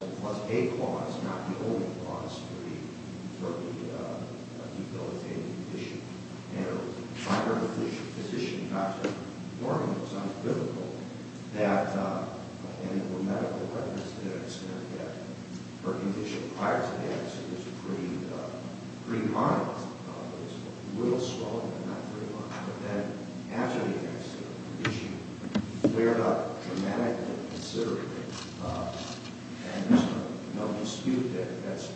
It was a cause, not the only cause, for the debilitating condition. And it was prior to the physician, Dr. Norman, it was uncritical that, and there were medical evidence to that extent, that her condition prior to the accident was pretty moderate. It was a little swollen, but not very much. But then, after the accident, she cleared up dramatically, considerably, and there's no dispute that that's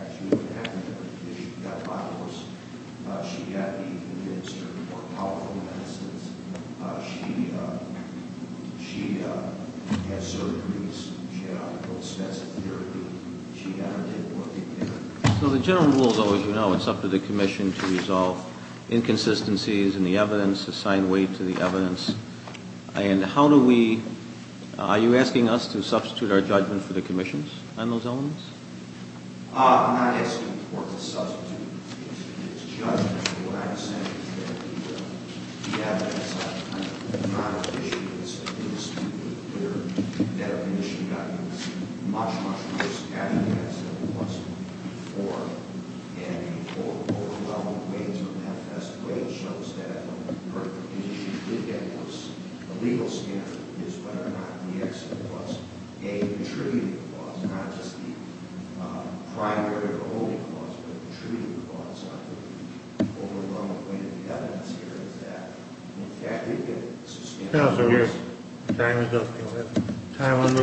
actually what happened to her. She got dialysis. She had to be administered more powerful medicines. She had surgeries. She had extensive therapy. She never did work again. So the general rule, as you know, it's up to the commission to resolve inconsistencies in the evidence, assign weight to the evidence. And how do we – are you asking us to substitute our judgment for the commission's on those elements? I'm not asking the court to substitute its judgment. What I'm saying is that the evidence I'm trying to issue is a dispute with Bitter, that a commission got much, much worse evidence than it was before. And the overwhelming weight of the manifest weight shows that what the commission did get was a legal standard. It's whether or not the accident was a contributing cause, not just the primary or only cause, but a contributing cause. The overwhelming weight of the evidence here is that. In fact, we've got substantial evidence. Time is up. Time is up. Time is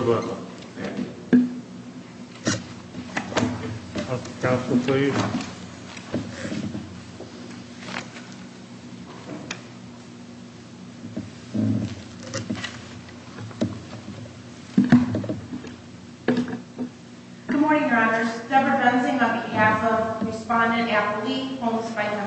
up. Counsel, please. Good morning, Your Honors. Debra Benzing on behalf of Respondent Appelique Holmes-Fighten.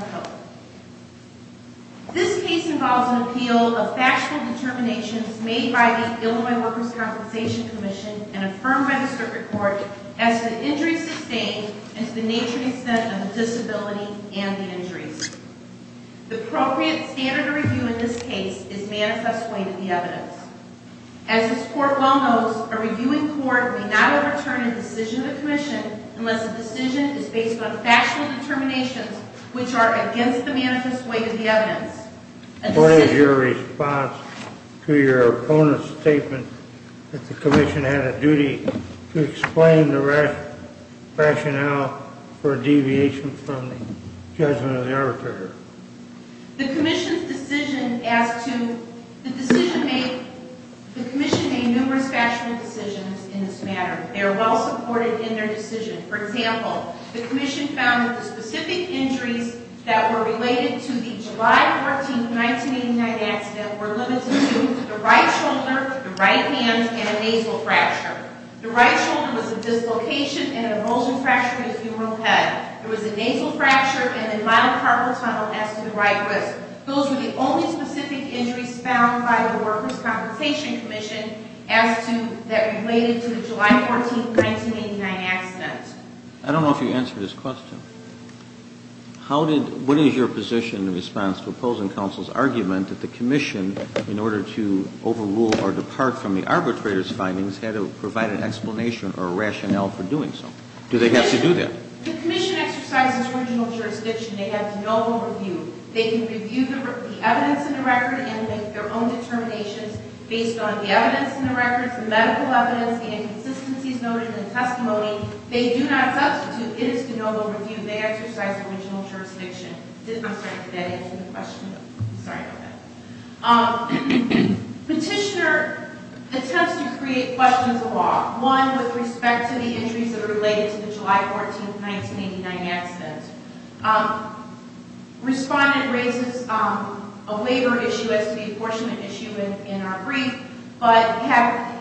This case involves an appeal of factional determinations made by the Illinois Workers' Compensation Commission and affirmed by the circuit court as to the injuries sustained and to the nature and extent of the disability and the injuries. The appropriate standard of review in this case is manifest weight of the evidence. As this court well knows, a reviewing court may not overturn a decision of a commission unless the decision is based on factional determinations, which are against the manifest weight of the evidence. What is your response to your opponent's statement that the commission had a duty to explain the rationale for deviation from the judgment of the arbitrator? The commission's decision as to the decision made, the commission made numerous factional decisions in this matter. They are well supported in their decision. For example, the commission found that the specific injuries that were related to the July 14, 1989 accident were limited to the right shoulder, the right hand, and a nasal fracture. The right shoulder was a dislocation and an emulsion fracture of the femoral head. There was a nasal fracture and a monocarpal tunnel as to the right wrist. Those were the only specific injuries found by the Workers' Conversation Commission as to that related to the July 14, 1989 accident. I don't know if you answered his question. What is your position in response to opposing counsel's argument that the commission, in order to overrule or depart from the arbitrator's findings, had to provide an explanation or a rationale for doing so? Do they have to do that? The commission exercises original jurisdiction. They have no overview. They can review the evidence in the record and make their own determinations based on the evidence in the records, the medical evidence, the inconsistencies noted in the testimony. They do not substitute. It is to know the review. They exercise original jurisdiction. I'm sorry, did that answer the question? Sorry about that. Petitioner attempts to create questions of law. One, with respect to the injuries that are related to the July 14, 1989 accident. Respondent raises a labor issue as to the apportionment issue in our brief. But,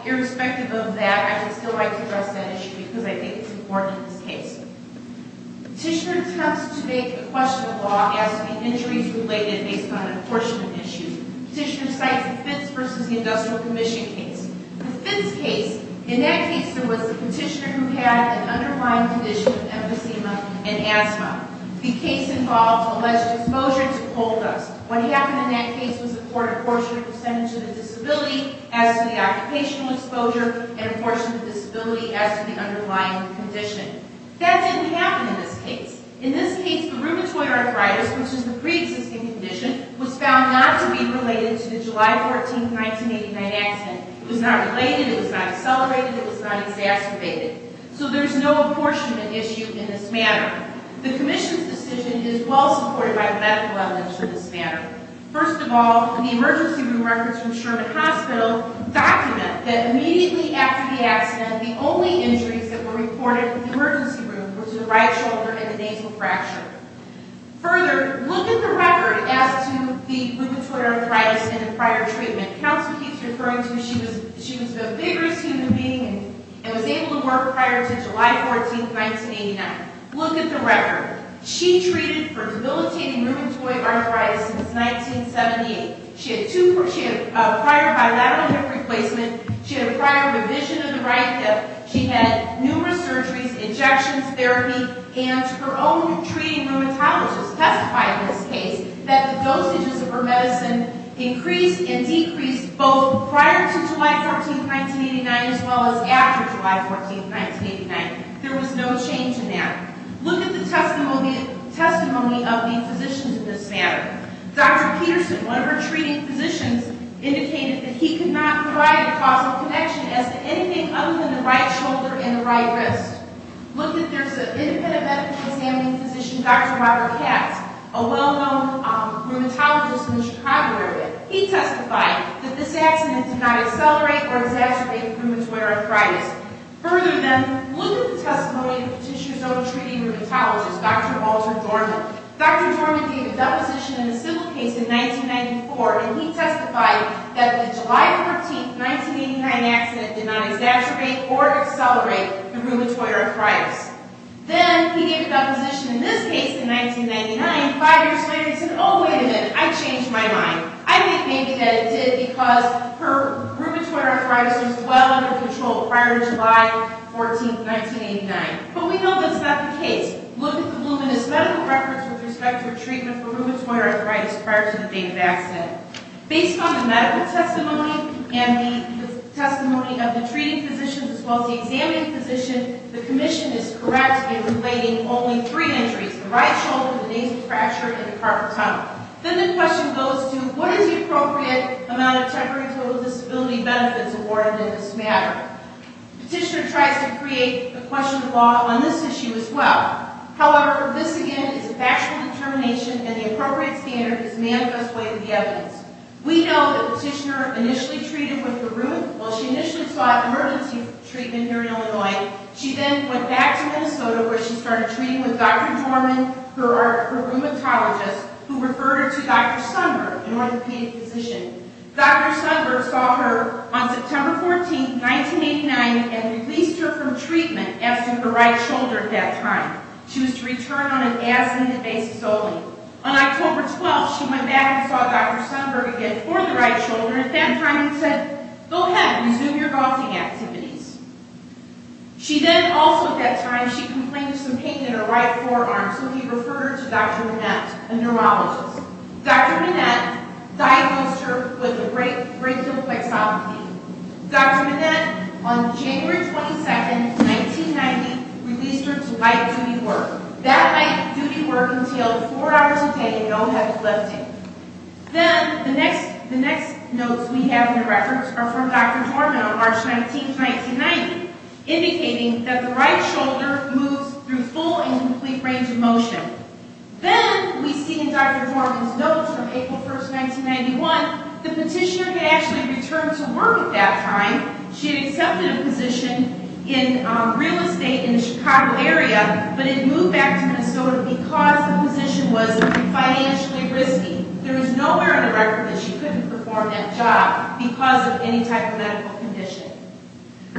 irrespective of that, I would still like to address that issue because I think it's important in this case. Petitioner attempts to make a question of law as to the injuries related based on apportionment issues. Petitioner cites the Fitts v. Industrial Commission case. The Fitts case, in that case there was a petitioner who had an underlying condition of emphysema and asthma. The case involved alleged exposure to coal dust. What happened in that case was the court apportioned a percentage of the disability as to the occupational exposure and apportioned the disability as to the underlying condition. That didn't happen in this case. In this case, the rheumatoid arthritis, which is the pre-existing condition, was found not to be related to the July 14, 1989 accident. It was not related. It was not accelerated. It was not exacerbated. So there's no apportionment issue in this matter. The Commission's decision is well supported by medical evidence for this matter. First of all, the emergency room records from Sherman Hospital document that immediately after the accident, the only injuries that were reported in the emergency room were to the right shoulder and the nasal fracture. Further, look at the record as to the rheumatoid arthritis and prior treatment. The counselor keeps referring to she was the biggest human being and was able to work prior to July 14, 1989. Look at the record. She treated for debilitating rheumatoid arthritis since 1978. She had prior bilateral hip replacement. She had a prior revision of the right hip. She had numerous surgeries, injections, therapy, and her own treating rheumatologist testified in this case that the dosages of her medicine increased and decreased both prior to July 14, 1989 as well as after July 14, 1989. There was no change in that. Look at the testimony of the physicians in this matter. Dr. Peterson, one of her treating physicians, indicated that he could not provide a causal connection as to anything other than the right shoulder and the right wrist. Look, there's an independent medical examining physician, Dr. Robert Katz, a well-known rheumatologist in the Chicago area. He testified that this accident did not accelerate or exacerbate rheumatoid arthritis. Further, then, look at the testimony of the petitioner's own treating rheumatologist, Dr. Walter Dorman. Dr. Dorman gave a deposition in the civil case in 1994, and he testified that the July 14, 1989 accident did not exacerbate or accelerate the rheumatoid arthritis. Then he gave a deposition in this case in 1999, five years later, and said, oh, wait a minute, I changed my mind. I think maybe that it did because her rheumatoid arthritis was well under control prior to July 14, 1989. But we know that's not the case. Look at the luminous medical records with respect to her treatment for rheumatoid arthritis prior to the date of accident. Based on the medical testimony and the testimony of the treating physician as well as the examining physician, the commission is correct in relating only three injuries, the right shoulder, the nasal fracture, and the carpal tunnel. Then the question goes to what is the appropriate amount of temporary total disability benefits awarded in this matter? The petitioner tries to create a question of law on this issue as well. However, this again is a factual determination, and the appropriate standard is manifest way of the evidence. We know that the petitioner initially treated with the rheum while she initially sought emergency treatment here in Illinois. She then went back to Minnesota where she started treating with Dr. Dorman, her rheumatologist, who referred her to Dr. Sundberg, an orthopedic physician. Dr. Sundberg saw her on September 14, 1989, and released her from treatment after the right shoulder at that time. She was to return on an as-ended basis only. On October 12, she went back and saw Dr. Sundberg again for the right shoulder at that time and said, Go ahead. Resume your golfing activities. She then also at that time, she complained of some pain in her right forearm, so he referred her to Dr. Minette, a neurologist. Dr. Minette diagnosed her with a brachial plexopathy. Dr. Minette, on January 22, 1990, released her to light duty work. That light duty work entailed four hours a day and no heavy lifting. Then the next notes we have in the records are from Dr. Dorman on March 19, 1990, indicating that the right shoulder moves through full and complete range of motion. Then we see in Dr. Dorman's notes from April 1, 1991, the petitioner had actually returned to work at that time. She had accepted a position in real estate in the Chicago area, but had moved back to Minnesota because the position was financially risky. There is nowhere in the record that she couldn't perform that job because of any type of medical condition.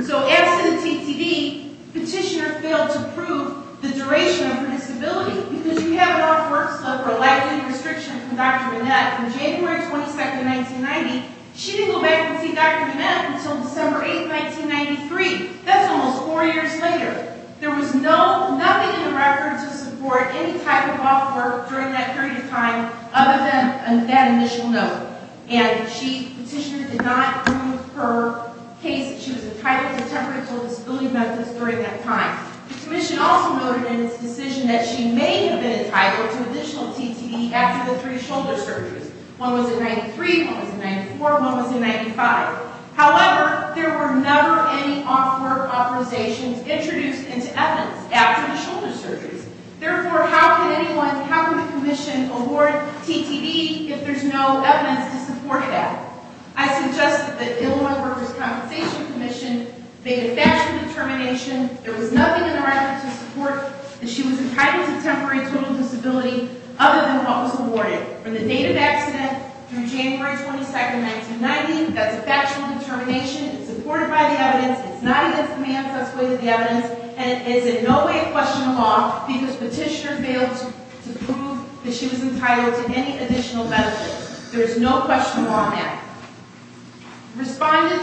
So as to the TTD, petitioner failed to prove the duration of her disability because we have an off work slope or light duty restriction from Dr. Minette. From January 22, 1990, she didn't go back to see Dr. Minette until December 8, 1993. That's almost four years later. There was nothing in the records to support any type of off work during that period of time other than that initial note. And the petitioner did not prove her case that she was entitled to temporary disability benefits during that time. The commission also noted in its decision that she may have been entitled to additional TTD after the three shoulder surgeries. One was in 1993, one was in 1994, one was in 1995. However, there were never any off work authorizations introduced into evidence after the shoulder surgeries. Therefore, how can anyone, how can the commission award TTD if there's no evidence to support it at? I suggest that the Illinois Workers' Compensation Commission make a factual determination. There was nothing in the records to support that she was entitled to temporary total disability other than what was awarded. From the date of accident through January 22, 1990, that's a factual determination. It's supported by the evidence. It's not against the man's way of the evidence. And it is in no way a question of law because petitioner failed to prove that she was entitled to any additional benefits. There is no question of law on that. Respondent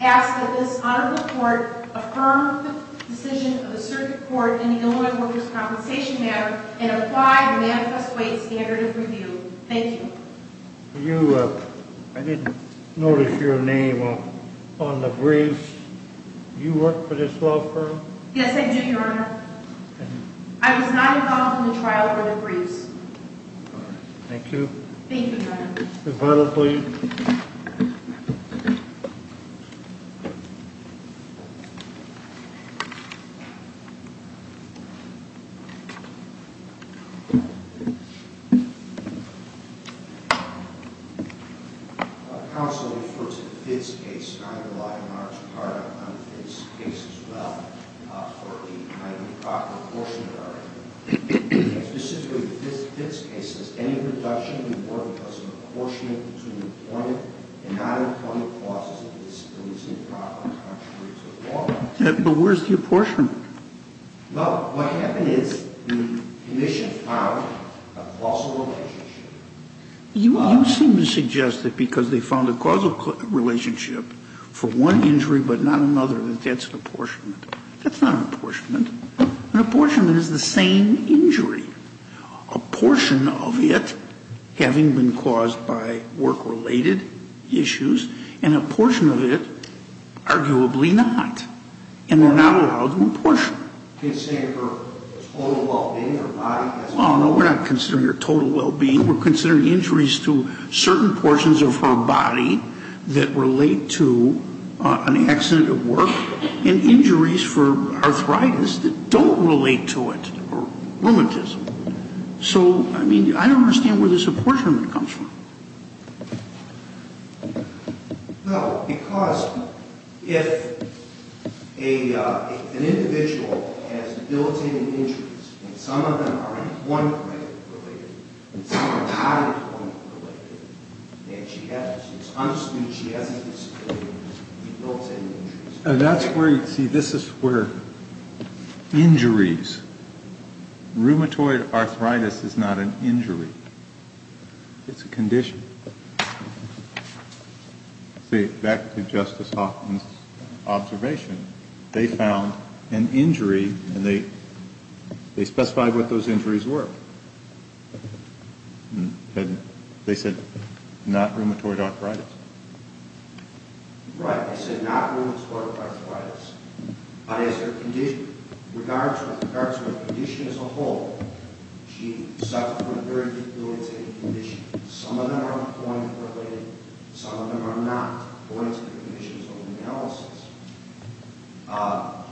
asks that this honorable court affirm the decision of the circuit court in the Illinois Workers' Compensation matter and apply the manifest way standard of review. Thank you. I didn't notice your name on the briefs. You work for this law firm? Yes, I do, Your Honor. I was not involved in the trial for the briefs. Thank you. Thank you, Your Honor. The file, please. Counsel referred to the Fitts case. I'm a large part of the Fitts case, as well, for the improper portion of the argument. Specifically, the Fitts case is any reduction in work because of apportionment between employment and non-employment causes of disability is improper, contrary to the law. But where's the apportionment? Well, what happened is the commission found a causal relationship. You seem to suggest that because they found a causal relationship for one injury but not another, that that's an apportionment. That's not an apportionment. An apportionment is the same injury. A portion of it having been caused by work-related issues, and a portion of it arguably not. And they're not allowed an apportionment. You're saying her total well-being, her body? Oh, no, we're not considering her total well-being. We're considering injuries to certain portions of her body that relate to an accident at work, and injuries for arthritis that don't relate to it, or rheumatism. So, I mean, I don't understand where this apportionment comes from. No, because if an individual has built-in injuries, and some of them are in one way related, and some are not in one way related, and she has it. It's understood she has a disability because of the built-in injuries. See, this is where injuries, rheumatoid arthritis is not an injury. It's a condition. See, back to Justice Hoffman's observation, they found an injury, and they specified what those injuries were. They said not rheumatoid arthritis. Right, they said not rheumatoid arthritis. But as regards to her condition as a whole, she suffered from a very debilitating condition. Some of them are point-related. Some of them are not. Point-related conditions are analysis.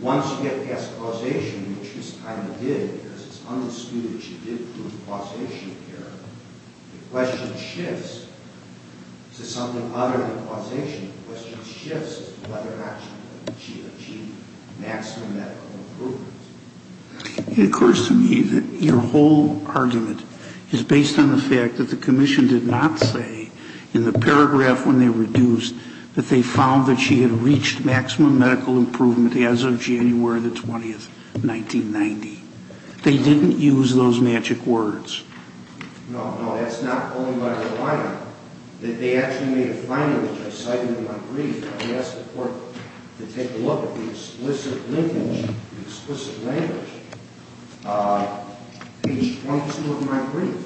Once you get past causation, which she kind of did, because it's understood that she did prove causation here, the question shifts to something other than causation. The question shifts to whether or not she achieved maximum medical improvement. It occurs to me that your whole argument is based on the fact that the commission did not say in the paragraph when they reduced that they found that she had reached maximum medical improvement as of January 20, 1990. They didn't use those magic words. No, no, that's not what I'm relying on. They actually made a finding, which I cited in my brief. I asked the court to take a look at the explicit linkage, the explicit language, page 22 of my brief.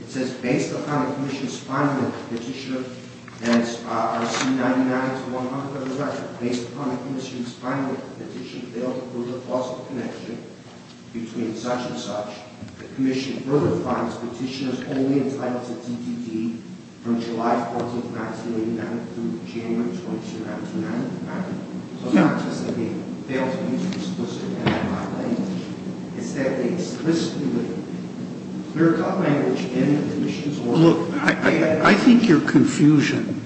It says, based upon the commission's finding of the petition, and I see 99 to 100 on the record. Based upon the commission's finding of the petition, failed to prove the causal connection between such and such, the commission further finds the petitioner is only entitled to DTD from July 14, 1989 through January 22, 1999. So it's not just that they failed to use explicit language. It's that they explicitly put clear-cut language in the commission's order. Look, I think your confusion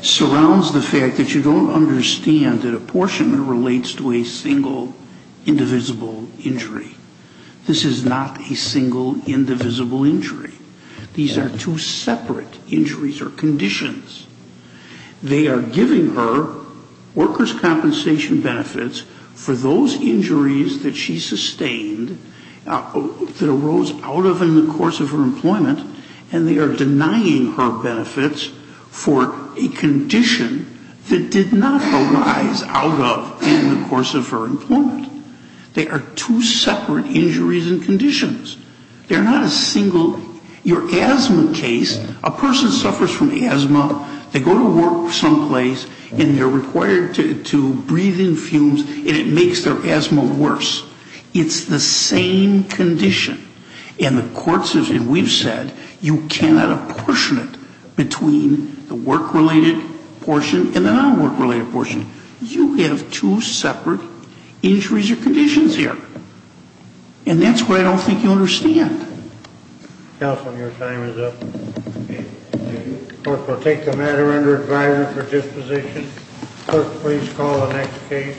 surrounds the fact that you don't understand that apportionment relates to a single, indivisible injury. This is not a single, indivisible injury. These are two separate injuries or conditions. They are giving her workers' compensation benefits for those injuries that she sustained that arose out of in the course of her employment, and they are denying her benefits for a condition that did not arise out of in the course of her employment. They are two separate injuries and conditions. They're not a single – your asthma case, a person suffers from asthma, they go to work someplace, and they're required to breathe in fumes, and it makes their asthma worse. It's the same condition. And the court says, and we've said, you cannot apportion it between the work-related portion and the non-work-related portion. You have two separate injuries or conditions here. And that's what I don't think you understand. Counsel, your time is up. The court will take the matter under advisory for disposition. Clerk, please call the next case.